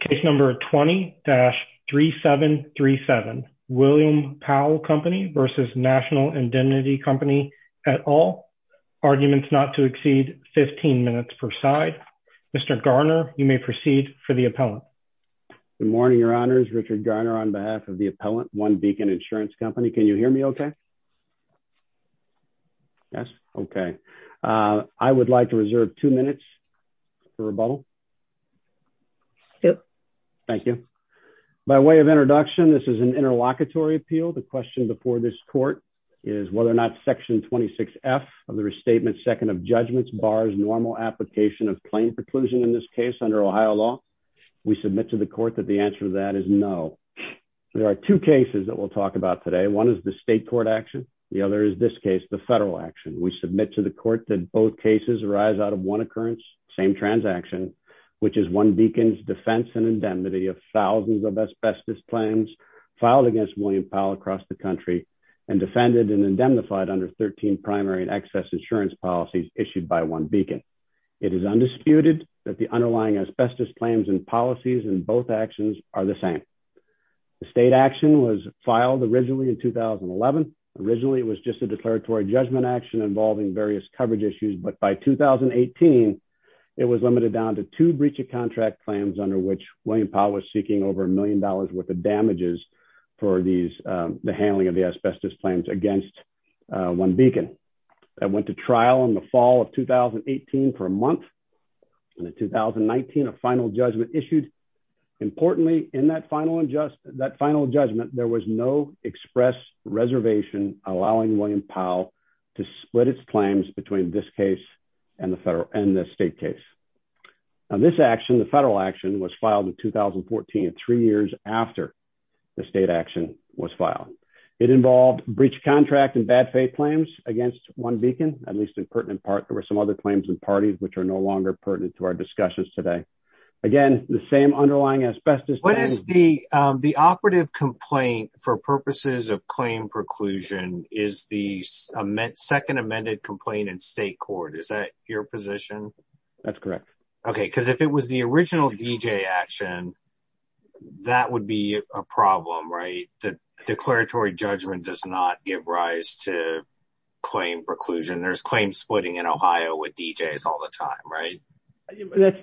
Case number 20-3737 William Powell Company versus National Indemnity Company at all. Arguments not to exceed 15 minutes per side. Mr. Garner, you may proceed for the appellant. Good morning, your honors. Richard Garner on behalf of the appellant, One Beacon Insurance Company. Can you hear me okay? Yes? Okay. I would like to reserve two minutes for rebuttal. Thank you. By way of introduction, this is an interlocutory appeal. The question before this court is whether or not section 26 F of the restatement second of judgments bars normal application of claim preclusion in this case under Ohio law. We submit to the court that the answer to that is no. There are two cases that we'll talk about today. One is the state court action. The other is this case, the federal action. We submit to the court that both cases arise out of one occurrence, same transaction, which is One Beacon's defense and indemnity of thousands of asbestos claims filed against William Powell across the country and defended and indemnified under 13 primary and excess insurance policies issued by One Beacon. It is undisputed that the underlying asbestos claims and policies in both actions are the same. The state action was filed originally in 2011. Originally, it was just a declaratory judgment action involving various coverage issues. But by 2018, it was limited down to two breach of contract claims under which William Powell was seeking over a million dollars worth of damages for these, the handling of the asbestos claims against One Beacon. That went to trial in the fall of 2018 for a month. In 2019, a final judgment issued. Importantly, in that final judgment, there was no express reservation allowing William Powell to split its claims between this case and the federal and the state case. This action, the federal action, was filed in 2014, three years after the state action was filed. It involved breach of contract and bad faith claims against One Beacon, at least in pertinent part. There were some other claims and parties which are no longer pertinent to our discussions today. Again, the same underlying asbestos. The operative complaint for purposes of claim preclusion is the second amended complaint in state court. Is that your position? That's correct. Okay, because if it was the original D.J. action, that would be a problem, right? The declaratory judgment does not give rise to claim preclusion. There's claim splitting in Ohio with D.J.s all the time, right?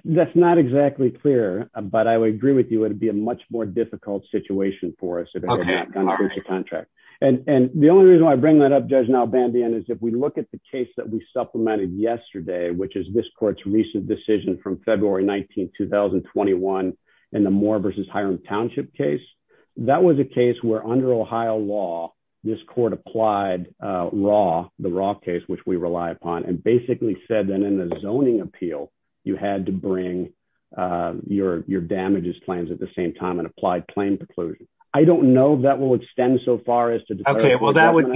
That's not exactly clear, but I would agree with you. It would be a much more difficult situation for us if it was a breach of contract. The only reason I bring that up, Judge Nalbandian, is if we look at the case that we supplemented yesterday, which is this court's recent decision from February 19th, 2021, in the Moore v. Hiram Township case, that was a case where under Ohio law, this court applied the Raw case, which we rely upon, and basically said that in the zoning appeal, you had to bring your damages plans at the same time and apply claim preclusion. I don't know if that will extend so far as to determine- Okay, well, that would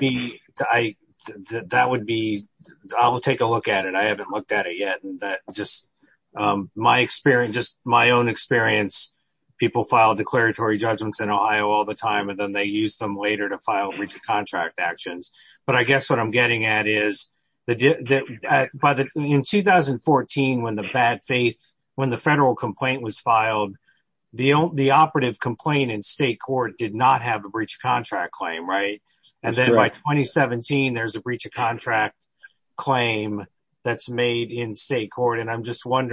be, I will take a look at it. I haven't looked at it yet. Just my own experience, people file declaratory judgments in Ohio all the time, and then they use them later to file breach of contract actions. But I guess what I'm getting at is, in 2014, when the federal complaint was filed, the operative complaint in state court did not have a breach of contract claim, right? And then by 2017, there's a breach of contract claim that's made in state court. And I'm just that.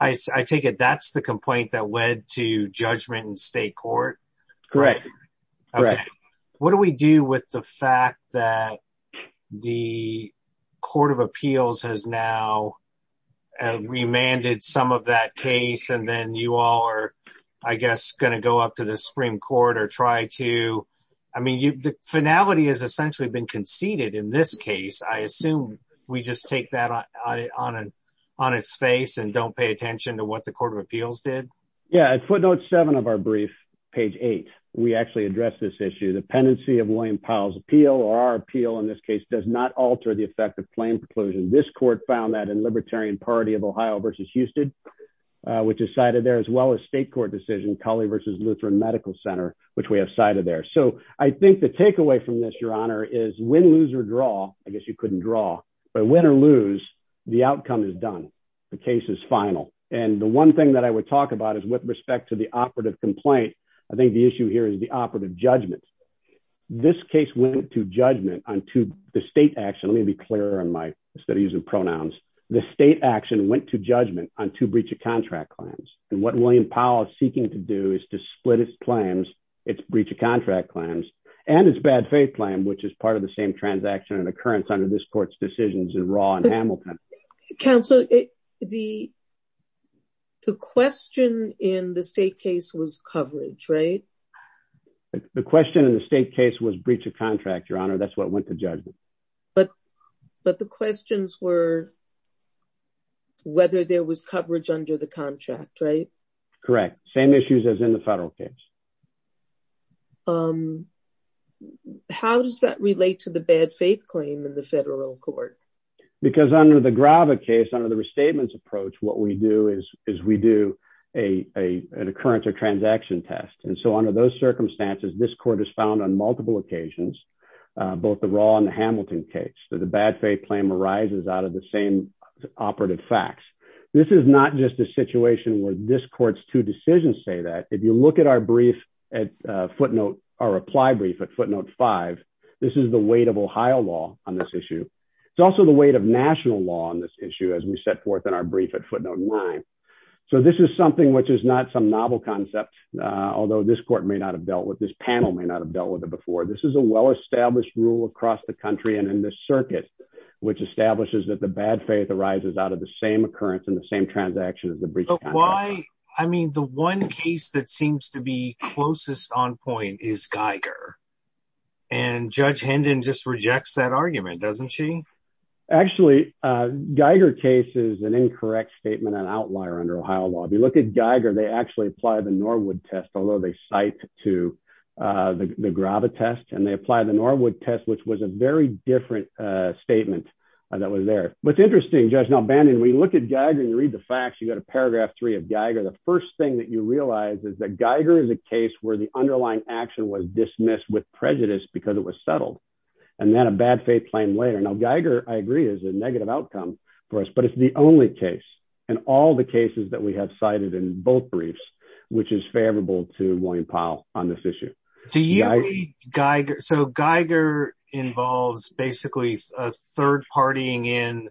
I take it that's the complaint that led to judgment in state court? Correct. Okay. What do we do with the fact that the court of appeals has now remanded some of that case, and then you all are, I guess, going to go up to the Supreme Court or try to- I mean, the finality has essentially been conceded in this case. I assume we just take that on its face and don't pay attention to what the court of appeals did? Yeah. At footnote seven of our brief, page eight, we actually address this issue. The pendency of William Powell's appeal, or our appeal in this case, does not alter the effect of claim preclusion. This court found that in Libertarian Party of Ohio versus Houston, which is cited there, as well as state court decision, Cawley versus Lutheran Medical Center, which we have cited there. So I think the takeaway from this, Your Honor, is win, lose, or draw, I guess you couldn't draw, but win or lose, the outcome is done. The case is final. And the one thing that I would talk about is with respect to the operative complaint, I think the issue here is the operative judgment. This case went to judgment on to the state action. Let me be clearer in my studies and pronouns. The state action went to judgment on two breach of contract claims. And what William Powell is seeking to do is to split its claims, its breach of contract claims, and its bad faith claim, which is part of the same transaction and occurrence under this court's decisions in Raw and Hamilton. Counselor, the question in the state case was coverage, right? The question in the state case was breach of contract, Your Honor, that's what went to judgment. But the questions were whether there was coverage under the contract, right? Correct. Same issues as in the federal case. How does that relate to the bad faith claim in the federal court? Because under the Grava case, under the restatements approach, what we do is we do an occurrence or transaction test. And so under those circumstances, this court is found on multiple occasions, both the Raw and the Hamilton case, that the bad faith claim arises out of the operative facts. This is not just a situation where this court's two decisions say that. If you look at our brief at footnote, our reply brief at footnote five, this is the weight of Ohio law on this issue. It's also the weight of national law on this issue as we set forth in our brief at footnote nine. So this is something which is not some novel concept, although this court may not have dealt with, this panel may not have dealt with it before. This is a well-established rule across the country and in this circuit, which establishes that the bad faith arises out of the same occurrence in the same transaction as the brief. I mean, the one case that seems to be closest on point is Geiger. And Judge Hendon just rejects that argument, doesn't she? Actually, Geiger case is an incorrect statement and outlier under Ohio law. If you look at Geiger, they actually apply the Norwood test, although they cite to the Grava test and they apply the Norwood test, which was a very different statement that was there. But it's interesting, Judge, now Bannon, we look at Geiger and you read the facts, you got a paragraph three of Geiger. The first thing that you realize is that Geiger is a case where the underlying action was dismissed with prejudice because it was settled and then a bad faith claim later. Now, Geiger, I agree, is a negative outcome for us, but it's the only case and all the cases that we have cited in both which is favorable to William Powell on this issue. So Geiger involves basically a third partying in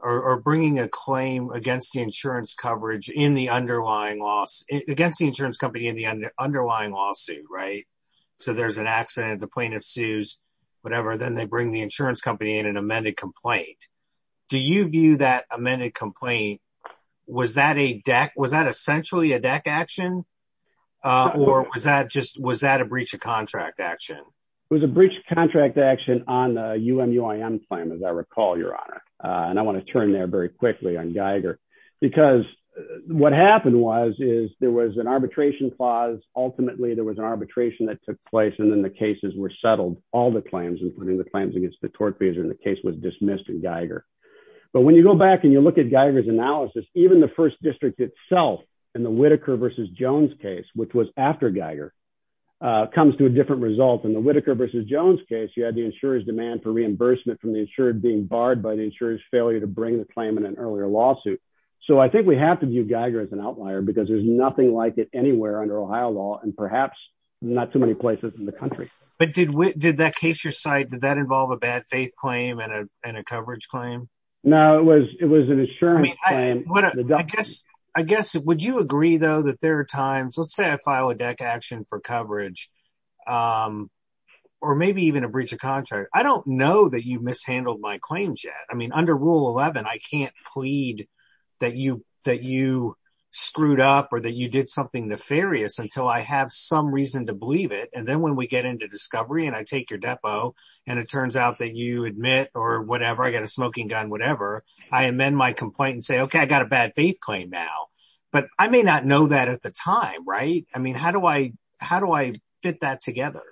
or bringing a claim against the insurance coverage in the underlying loss against the insurance company in the underlying lawsuit, right? So there's an accident, the plaintiff sues, whatever, then they bring the insurance company in an amended complaint. Do you view that amended complaint? Was that a deck? Was that essentially a deck action or was that just, was that a breach of contract action? It was a breach of contract action on a UMUIM claim, as I recall, your honor. And I want to turn there very quickly on Geiger because what happened was, is there was an arbitration clause. Ultimately, there was an arbitration that took place and then the cases were settled, all the claims, including the claims against the tort fees and the case was dismissed in Geiger. But when you go back and you look at Geiger's analysis, even the first district itself in the Whitaker versus Jones case, which was after Geiger, comes to a different result. In the Whitaker versus Jones case, you had the insurer's demand for reimbursement from the insured being barred by the insurer's failure to bring the claim in an earlier lawsuit. So I think we have to view Geiger as an outlier because there's nothing like it anywhere under Ohio law and perhaps not too many places in the country. But did that case you're citing, did that involve a bad faith claim and a coverage claim? No, it was an assurance claim. I guess, would you agree though that there are times, let's say I file a deck action for coverage or maybe even a breach of contract. I don't know that you've mishandled my claims yet. I mean, under Rule 11, I can't plead that you screwed up or that you did something nefarious until I have some reason to believe it. And then when we get into discovery and I take your depo and it turns out that you admit or whatever, I got a smoking gun, whatever, I amend my complaint and say, okay, I got a bad faith claim now. But I may not know that at the time, right? I mean, how do I fit that together?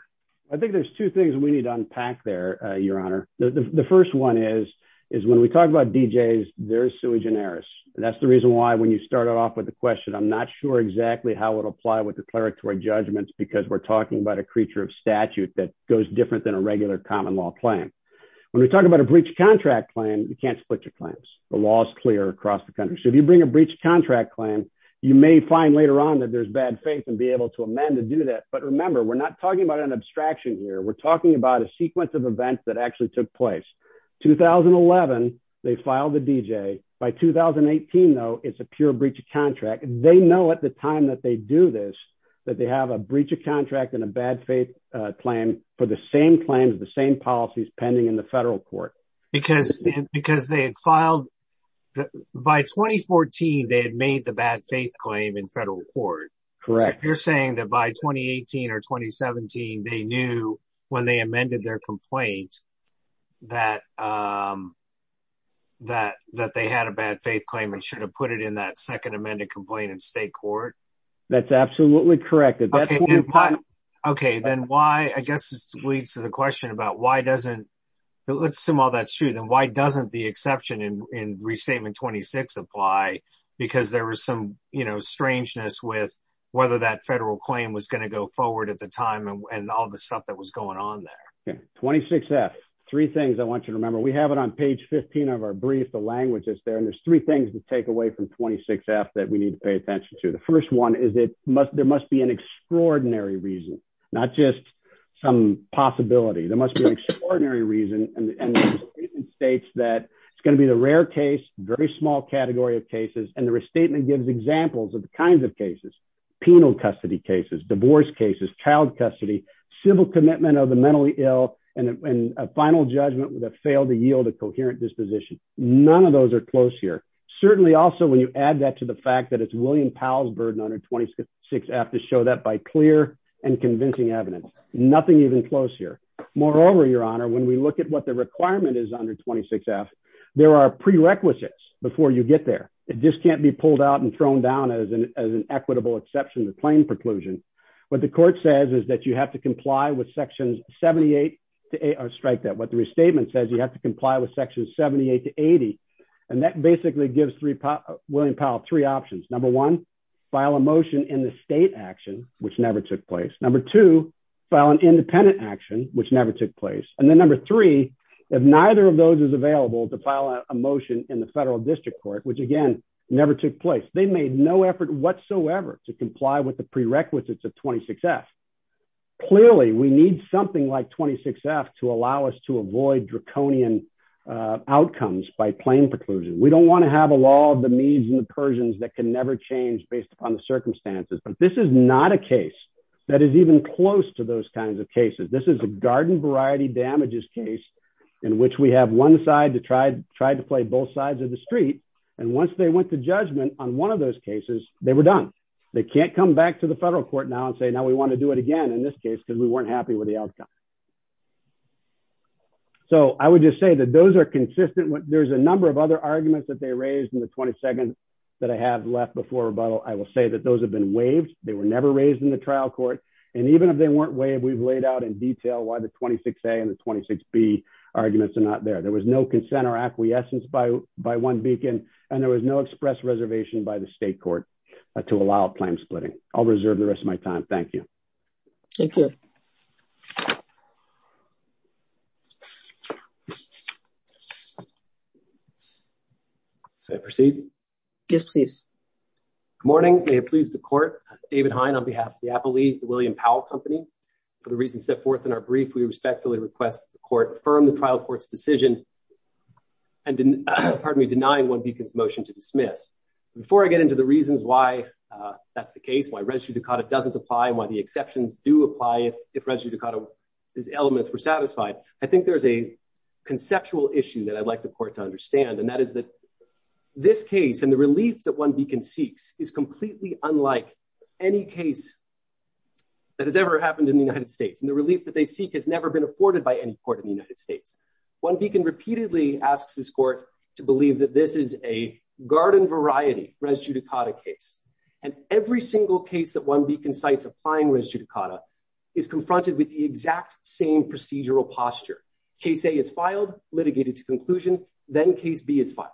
I think there's two things we need to unpack there, Your Honor. The first one is when we talk about DJs, they're sui generis. And that's the reason why when you started off with the because we're talking about a creature of statute that goes different than a regular common law claim. When we're talking about a breach of contract claim, you can't split your claims. The law is clear across the country. So if you bring a breach of contract claim, you may find later on that there's bad faith and be able to amend to do that. But remember, we're not talking about an abstraction here. We're talking about a sequence of events that actually took place. 2011, they filed the DJ. By 2018 though, it's a pure breach of contract. They know at the time that they do this, that they have a breach of contract and a bad faith claim for the same claims, the same policies pending in the federal court. Because they had filed, by 2014, they had made the bad faith claim in federal court. Correct. You're saying that by 2018 or 2017, they knew when they amended their complaint that they had a bad faith claim and should have put it in that second amended complaint in state court? That's absolutely correct. Okay. Then why, I guess this leads to the question about why doesn't, let's assume all that's true, then why doesn't the exception in restatement 26 apply? Because there was some strangeness with whether that federal claim was going to go forward at the time and all the stuff that was going on there. 26F, three things I want you to remember. We have it on page 15 of our brief, the language is there, and there's three things to take away from 26F that we need to pay attention to. The first one is that there must be an extraordinary reason, not just some possibility. There must be an extraordinary reason and the restatement states that it's going to be the rare case, very small category of cases, and the restatement gives examples of the kinds of cases, penal custody cases, divorce cases, child custody, civil commitment of the mentally ill, and a final judgment with a fail to yield a coherent disposition. None of those are close here. Certainly also when you add that to the fact that it's William Powell's burden under 26F to show that by clear and convincing evidence, nothing even close here. Moreover, your honor, when we look at what the requirement is under 26F, there are prerequisites before you get there. It just what the court says is that you have to comply with sections 78 to 80, strike that, what the restatement says, you have to comply with sections 78 to 80, and that basically gives William Powell three options. Number one, file a motion in the state action, which never took place. Number two, file an independent action, which never took place. And then number three, if neither of those is available to file a motion in the federal district court, which again, never took place, they made no effort whatsoever to comply with the prerequisites of 26F. Clearly, we need something like 26F to allow us to avoid draconian outcomes by plain preclusion. We don't want to have a law of the Medes and the Persians that can never change based upon the circumstances. But this is not a case that is even close to those kinds of cases. This is a garden variety damages case in which we have one side to try to play both sides of the street. And once they went to judgment on one of those cases, they were done. They can't come back to the federal court now and say, now we want to do it again in this case, because we weren't happy with the outcome. So I would just say that those are consistent. There's a number of other arguments that they raised in the 22nd that I have left before rebuttal. I will say that those have been waived. They were never raised in the trial court. And even if they weren't waived, we've laid out in detail why the 26A and the 26B arguments are not there. There was no consent or acquiescence by one beacon, and there was no express reservation by the state court to allow claim splitting. I'll reserve the rest of my time. Thank you. Thank you. Should I proceed? Yes, please. Good morning. May it please the court. David Hein on behalf of the Appalachian William Powell Company. For the reasons set forth in our brief, we respectfully request the court affirm the trial court's decision, and pardon me, deny one beacon's motion to dismiss. Before I get into the reasons why that's the case, why res judicata doesn't apply, and why the exceptions do apply if res judicata's elements were satisfied, I think there's a conceptual issue that I'd like the court to understand. And that is that this case and the relief that one beacon seeks is completely unlike any case that has ever happened in the United States. And the relief that they seek has never been afforded by any court in the United States. One beacon repeatedly asks this court to believe that this is a garden variety res judicata case. And every single case that one beacon cites applying res judicata is confronted with the exact same procedural posture. Case A is filed, litigated to conclusion, then case B is filed.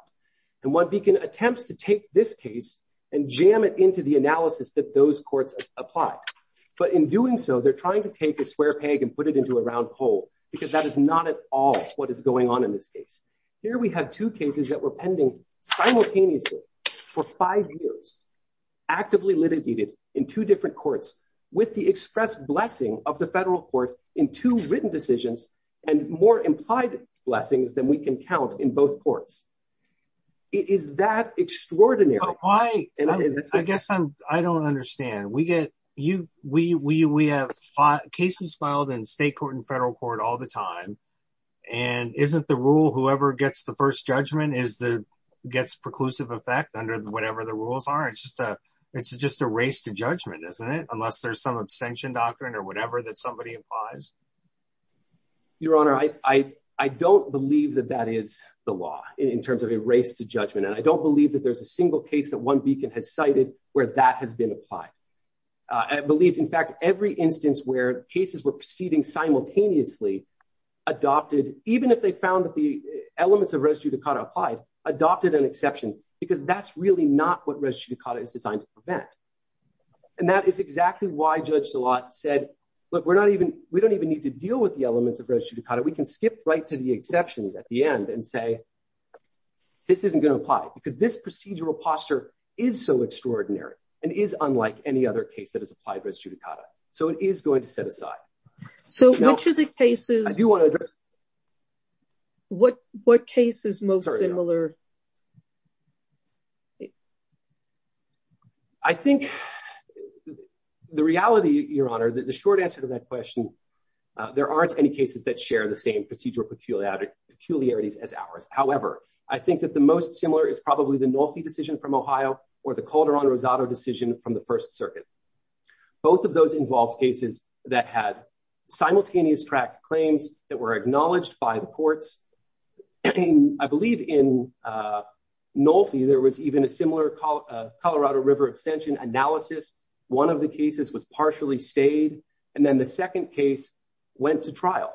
And one beacon attempts to take this case and jam it into the analysis that those courts apply. But in doing so, they're trying to take square peg and put it into a round hole, because that is not at all what is going on in this case. Here we have two cases that were pending simultaneously for five years, actively litigated in two different courts with the express blessing of the federal court in two written decisions and more implied blessings than we can count in both courts. Is that extraordinary? Why? I guess I don't understand. We have cases filed in state court and federal court all the time. And isn't the rule, whoever gets the first judgment gets preclusive effect under whatever the rules are? It's just a race to judgment, isn't it? Unless there's some abstention doctrine or whatever that somebody implies. Your Honor, I don't believe that that is the law in terms of race to judgment. And I don't believe that there's a single case that one beacon has cited where that has been applied. I believe, in fact, every instance where cases were proceeding simultaneously adopted, even if they found that the elements of res judicata applied, adopted an exception, because that's really not what res judicata is designed to prevent. And that is exactly why Judge Szilard said, look, we don't even need to deal with the elements of res judicata. We can skip right to the exceptions at the end and say, this isn't going to apply because this procedural posture is so extraordinary and is unlike any other case that is applied res judicata. So it is going to set aside. So which of the cases, what cases most similar? I think the reality, Your Honor, that the short answer to that question, there aren't any cases that share the same procedural peculiarities as ours. However, I think that the most similar is probably the Nolfi decision from Ohio or the Calderon-Rosado decision from the First Circuit. Both of those involved cases that had simultaneous track claims that were acknowledged by the courts. I believe in Nolfi, there was even a similar Colorado River extension analysis. One of the cases was partially stayed. And then the second case went to trial.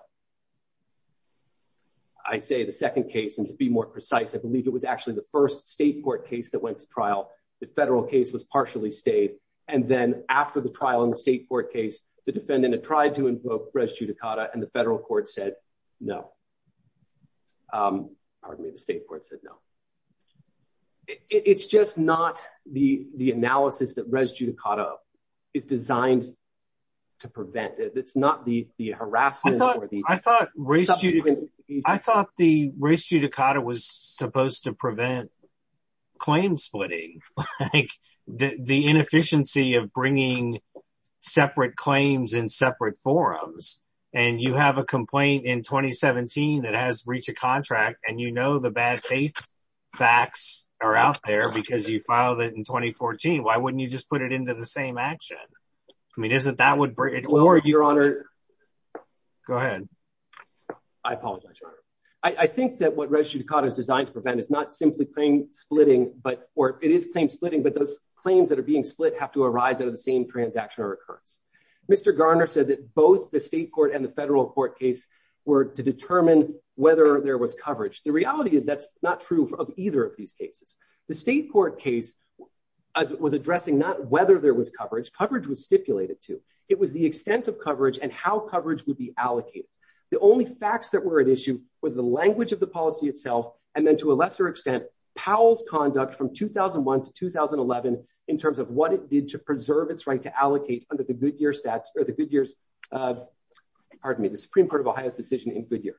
I say the second case, and to be more precise, I believe it was actually the first state court case that went to trial. The federal case was partially stayed. And then after the trial in the state court case, the defendant had tried to invoke res judicata and the federal court said, no. Pardon me, the state court said, no. It's just not the analysis that res judicata is designed to prevent. It's not the harassment. I thought the res judicata was supposed to prevent claim splitting, like the inefficiency of bringing separate claims in separate forums. And you have a complaint in 2017 that has reached a contract and you know the bad faith facts are there because you filed it in 2014. Why wouldn't you just put it into the same action? I mean, isn't that would bring it or your honor. Go ahead. I apologize. I think that what res judicata is designed to prevent is not simply playing splitting, but or it is playing splitting, but those claims that are being split have to arise out of the same transaction or occurrence. Mr. Garner said that both the state court and the federal court case were to determine whether there was coverage. The reality is that's not true of either of these cases. The state court case was addressing not whether there was coverage. Coverage was stipulated to. It was the extent of coverage and how coverage would be allocated. The only facts that were at issue was the language of the policy itself. And then to a lesser extent, Powell's conduct from 2001 to 2011 in terms of what it did to preserve its right to allocate under the Supreme Court of Ohio's decision in Goodyear.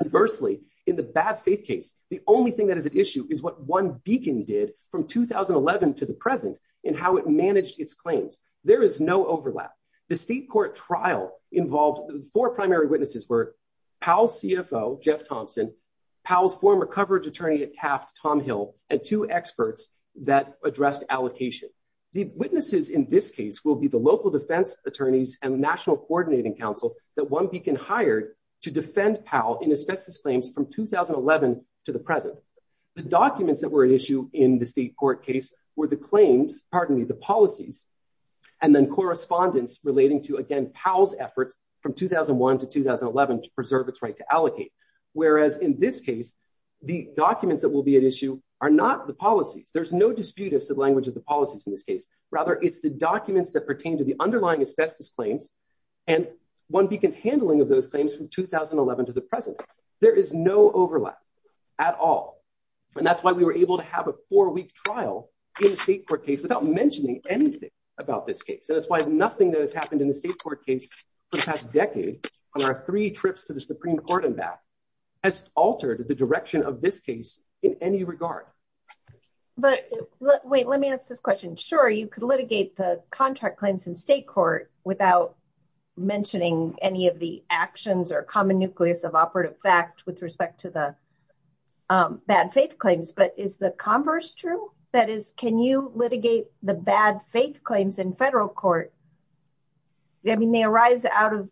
Conversely, in the bad faith case, the only thing that is at issue is what one beacon did from 2011 to the present and how it managed its claims. There is no overlap. The state court trial involved four primary witnesses were Powell's CFO, Jeff Thompson, Powell's former coverage attorney at Taft, Tom Hill, and two experts that addressed allocation. The witnesses in this case will be the local defense attorneys and the National Coordinating Council that one beacon hired to defend Powell in asbestos claims from 2011 to the present. The documents that were at issue in the state court case were the claims, pardon me, the policies, and then correspondence relating to, again, Powell's efforts from 2001 to 2011 to preserve its right to allocate. Whereas in this case, the documents that will be at issue are not the policies. There's no dispute as to the language of the policies in this case. Rather, it's the documents that pertain to the underlying asbestos claims and one beacon's handling of those claims from 2011 to the present. There is no overlap at all. And that's why we were able to have a four-week trial in the state court case without mentioning anything about this case. And that's why nothing that has happened in the state court case for the past decade on our three trips to the Supreme Court and back has altered the direction of this case in any regard. But wait, let me ask this question. Sure, you could litigate the contract claims in state court without mentioning any of the actions or common nucleus of operative fact with respect to the bad faith claims, but is the converse true? That is, can you litigate the bad faith claims in federal court? I mean, they arise out of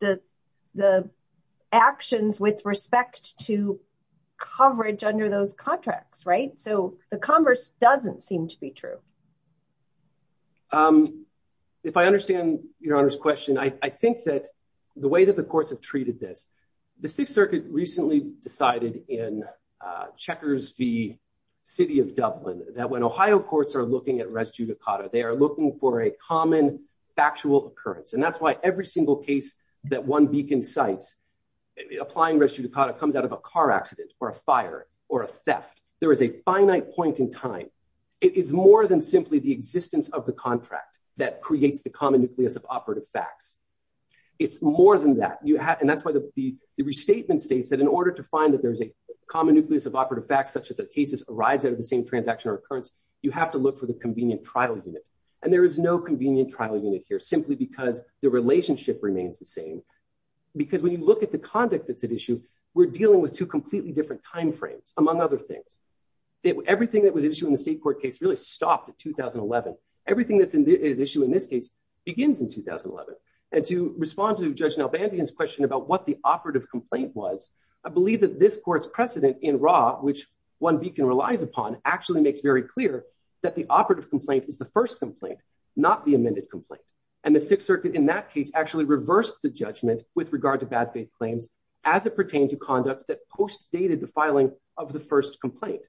the actions with respect to coverage under those contracts, right? So the converse doesn't seem to be true. If I understand Your Honor's question, I think that the way that the courts have treated this, the Sixth Circuit recently decided in Checkers v. City of Dublin that when Ohio courts are looking at res judicata, they are looking for a common factual occurrence. And that's why every single case that one beacon cites, applying res judicata comes out of a car accident or a fire or a theft. There is a finite point in time. It is more than simply the existence of the contract that creates the common nucleus of operative facts. It's more than that. And that's why the restatement states that in order to find that there's a common nucleus of operative facts, such that the cases arise out of the same transaction or occurrence, you have to look for the convenient trial unit. And there is no convenient trial unit here simply because the relationship remains the same. Because when you look at the conduct that's at issue, we're dealing with two completely different timeframes, among other things. Everything that was issued in the state court case really stopped in 2011. Everything that's at issue in this case begins in 2011. And to respond to Judge Nalbandian's question about what the operative complaint was, I believe that this court's precedent in raw, which one beacon relies upon, actually makes very clear that the operative complaint is the first complaint, not the second. And in that case, actually reversed the judgment with regard to bad faith claims as it pertained to conduct that post dated the filing of the first complaint.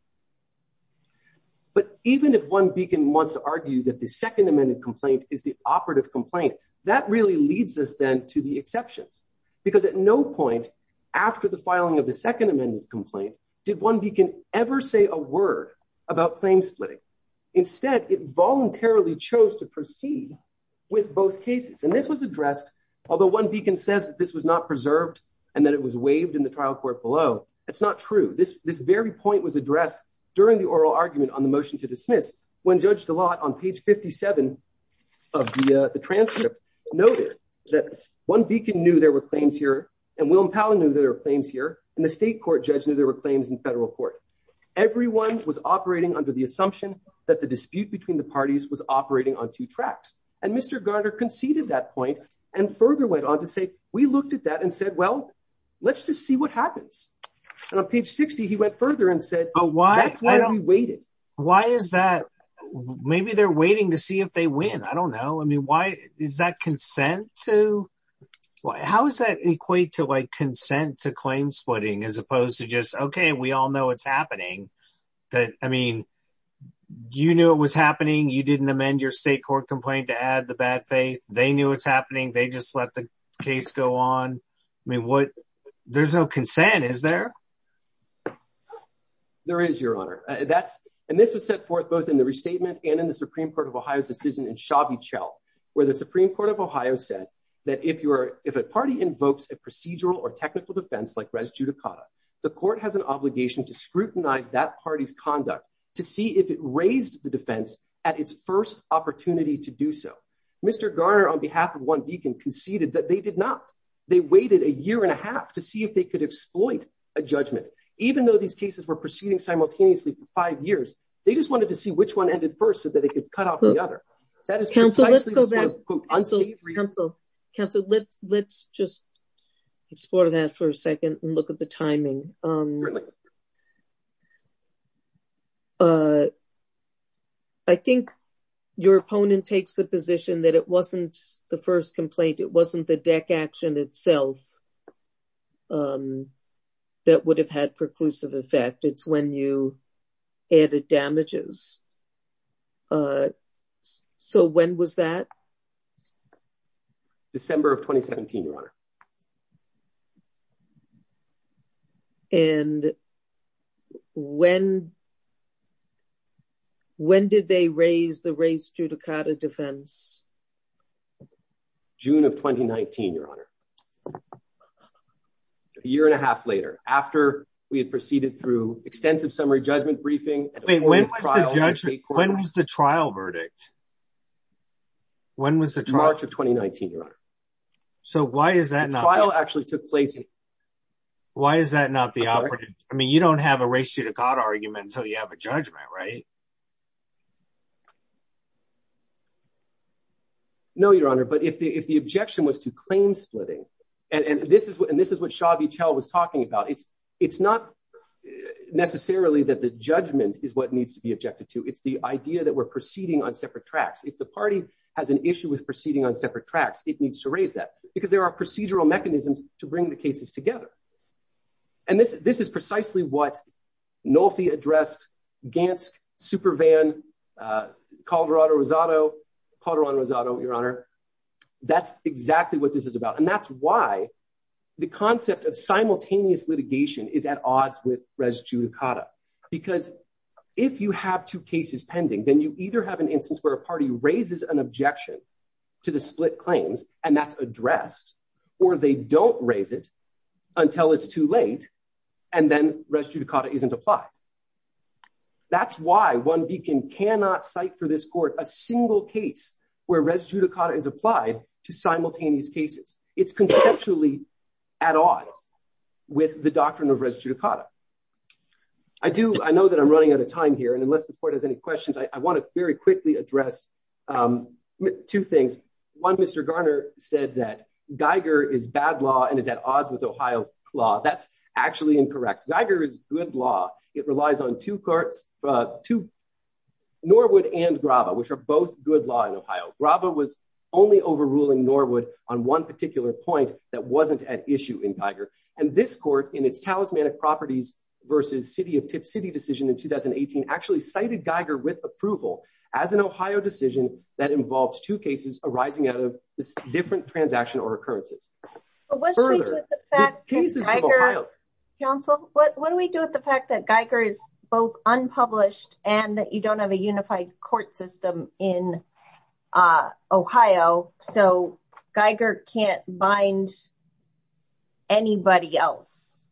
But even if one beacon wants to argue that the second amended complaint is the operative complaint, that really leads us then to the exceptions. Because at no point after the filing of the second amended complaint, did one beacon ever say a word about claim splitting. Instead, it voluntarily chose to proceed with both cases. And this was addressed, although one beacon says that this was not preserved, and that it was waived in the trial court below. That's not true. This very point was addressed during the oral argument on the motion to dismiss when Judge DeLotte on page 57 of the transcript noted that one beacon knew there were claims here, and Willem Palen knew there were claims here, and the state court judge knew there were claims in federal court. Everyone was operating under the assumption that the dispute between the parties was operating on two tracks. And Mr. Garner conceded that point, and further went on to say, we looked at that and said, well, let's just see what happens. And on page 60, he went further and said, oh, that's why we waited. Why is that? Maybe they're waiting to see if they win. I don't know. I mean, why is that consent to? How does that equate to like consent to claim splitting as opposed to just, OK, we all know what's happening. I mean, you knew it was happening. You didn't amend your state court complaint to add the bad faith. They knew what's happening. They just let the case go on. I mean, there's no consent, is there? There is, Your Honor. And this was set forth both in the restatement and in the Supreme Court of Ohio's decision in Shabby Chell, where the Supreme Court of Ohio said that if a party invokes a defense like res judicata, the court has an obligation to scrutinize that party's conduct to see if it raised the defense at its first opportunity to do so. Mr. Garner, on behalf of one beacon, conceded that they did not. They waited a year and a half to see if they could exploit a judgment, even though these cases were proceeding simultaneously for five years. They just wanted to see which one ended first so that they could cut off the other. Counsel, let's go back. Counsel, let's just explore that for a second and look at the timing. I think your opponent takes the position that it wasn't the first complaint. It wasn't the first. December of 2017, Your Honor. And when did they raise the res judicata defense? June of 2019, Your Honor. A year and a half later, after we had proceeded through extensive summary judgment briefing. When was the trial verdict? March of 2019, Your Honor. So why is that not? The trial actually took place. Why is that not the operative? I mean, you don't have a res judicata argument until you have a judgment, right? No, Your Honor. But if the objection was to claim splitting, and this is what Shabby Chell was is what needs to be objected to. It's the idea that we're proceeding on separate tracks. If the party has an issue with proceeding on separate tracks, it needs to raise that because there are procedural mechanisms to bring the cases together. And this is precisely what Nolfi addressed, Gansk, Supervan, Calderon-Rosato, Your Honor. That's exactly what this is about. That's why the concept of simultaneous litigation is at odds with res judicata. Because if you have two cases pending, then you either have an instance where a party raises an objection to the split claims, and that's addressed, or they don't raise it until it's too late, and then res judicata isn't applied. That's why OneBeacon cannot cite for this court a single case where res judicata is applied to simultaneous cases. It's conceptually at odds with the doctrine of res judicata. I know that I'm running out of time here, and unless the court has any questions, I want to very quickly address two things. One, Mr. Garner said that Geiger is bad law and is at odds with Ohio law. That's actually incorrect. Geiger is good law. It relies on Norwood and Graba, which are both good law in Ohio. Graba was only overruling Norwood on one particular point that wasn't at issue in Geiger. And this court, in its talismanic properties versus city of Tipp City decision in 2018, actually cited Geiger with approval as an Ohio decision that involves two cases arising out of this different transaction or both. Geiger is both unpublished and that you don't have a unified court system in Ohio, so Geiger can't bind anybody else.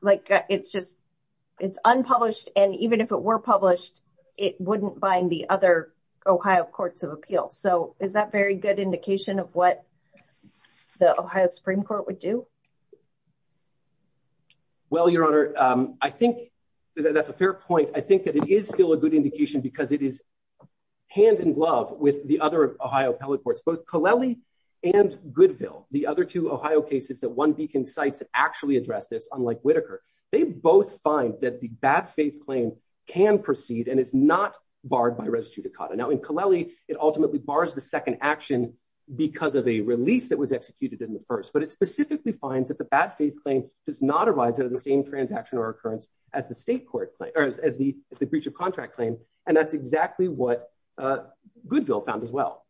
It's unpublished, and even if it were published, it wouldn't bind the other Ohio courts of appeal. Is that a very good indication of what the Ohio Supreme Court would do? Well, Your Honor, I think that that's a fair point. I think that it is still a good indication because it is hand in glove with the other Ohio appellate courts, both Colelli and Goodville, the other two Ohio cases that one beacon cites actually address this, unlike Whitaker. They both find that the bad faith claim can proceed and is not barred by res judicata. Now, in Colelli, it ultimately bars the second action because of a release that was executed in the first, but it specifically finds that the bad faith claim does not arise out of the same transaction or occurrence as the breach of contract claim, and that's exactly what Goodville found as well.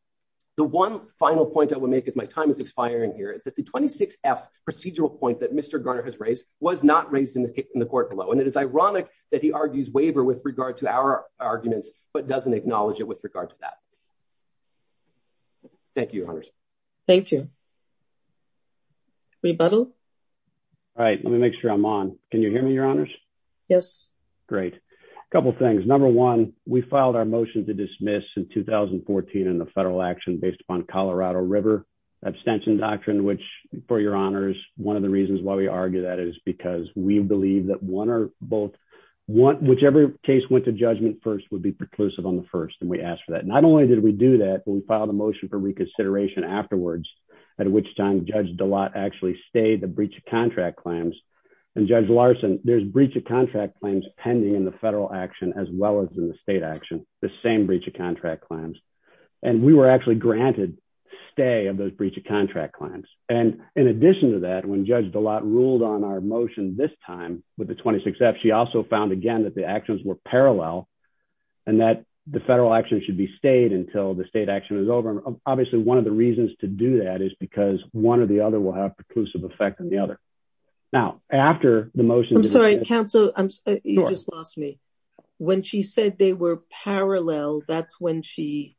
The one final point I will make as my time is expiring here is that the 26F procedural point that Mr. Garner has raised was not raised in the court below, and it is ironic that he argues waiver with regard to our arguments but doesn't acknowledge it with regard to that. Thank you, Your Honors. Thank you. Rebuttal? All right, let me make sure I'm on. Can you hear me, Your Honors? Yes. Great. A couple things. Number one, we filed our motion to dismiss in 2014 in the federal action based upon Colorado River abstention doctrine, which, for Your Honors, one of the reasons why we argue that is because we believe that whichever case went to judgment first would be preclusive on the first, and we asked for that. Not only did we do that, but we filed a motion for reconsideration afterwards, at which time Judge DeLotte actually stayed the breach of contract claims, and Judge Larson, there's breach of contract claims pending in the federal action as well as in the state action, the same breach of contract claims, and we were actually granted stay of those breach of contract claims, and in addition to that, when Judge DeLotte ruled on our motion this time with the 26F, she also found, again, that the actions were parallel and that the federal action should be stayed until the state action is over, and obviously one of the reasons to do that is because one or the other will have preclusive effect on the other. Now, after the motion... I'm sorry, counsel, you just lost me. When she said they were parallel, that's when she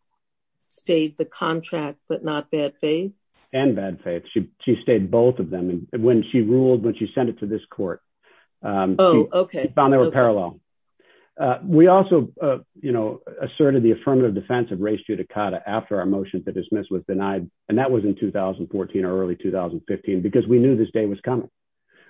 stayed the contract but not bad faith? And bad faith. She stayed both of them, and when she ruled, when she sent it to this court... We also, you know, asserted the affirmative defense of race judicata after our motion to dismiss was denied, and that was in 2014 or early 2015 because we knew this day was coming.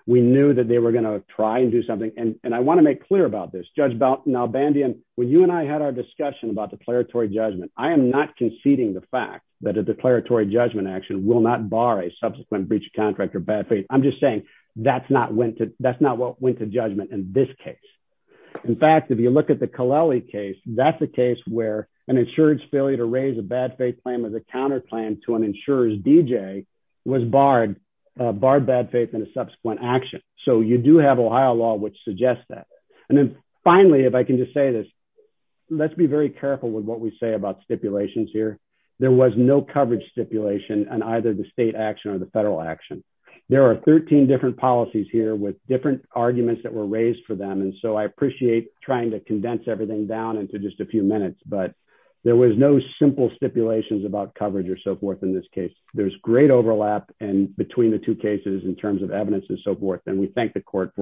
We knew that they were going to try and do something, and I want to make clear about this. Judge Nalbandian, when you and I had our discussion about declaratory judgment, I am not conceding the fact that a declaratory judgment action will not bar a subsequent breach of contract or bad faith. I'm just saying that's not what went to judgment in this case. In fact, if you look at the Kaleli case, that's the case where an insurer's failure to raise a bad faith claim as a counterclaim to an insurer's D.J. was barred bad faith in a subsequent action, so you do have Ohio law which suggests that, and then finally, if I can just say this, let's be very careful with what we say about stipulations here. There was no coverage stipulation on either the state action or the court action. There were 13 different policies here with different arguments that were raised for them, and so I appreciate trying to condense everything down into just a few minutes, but there was no simple stipulations about coverage or so forth in this case. There's great overlap between the two cases in terms of evidence and so forth, and we thank the court for its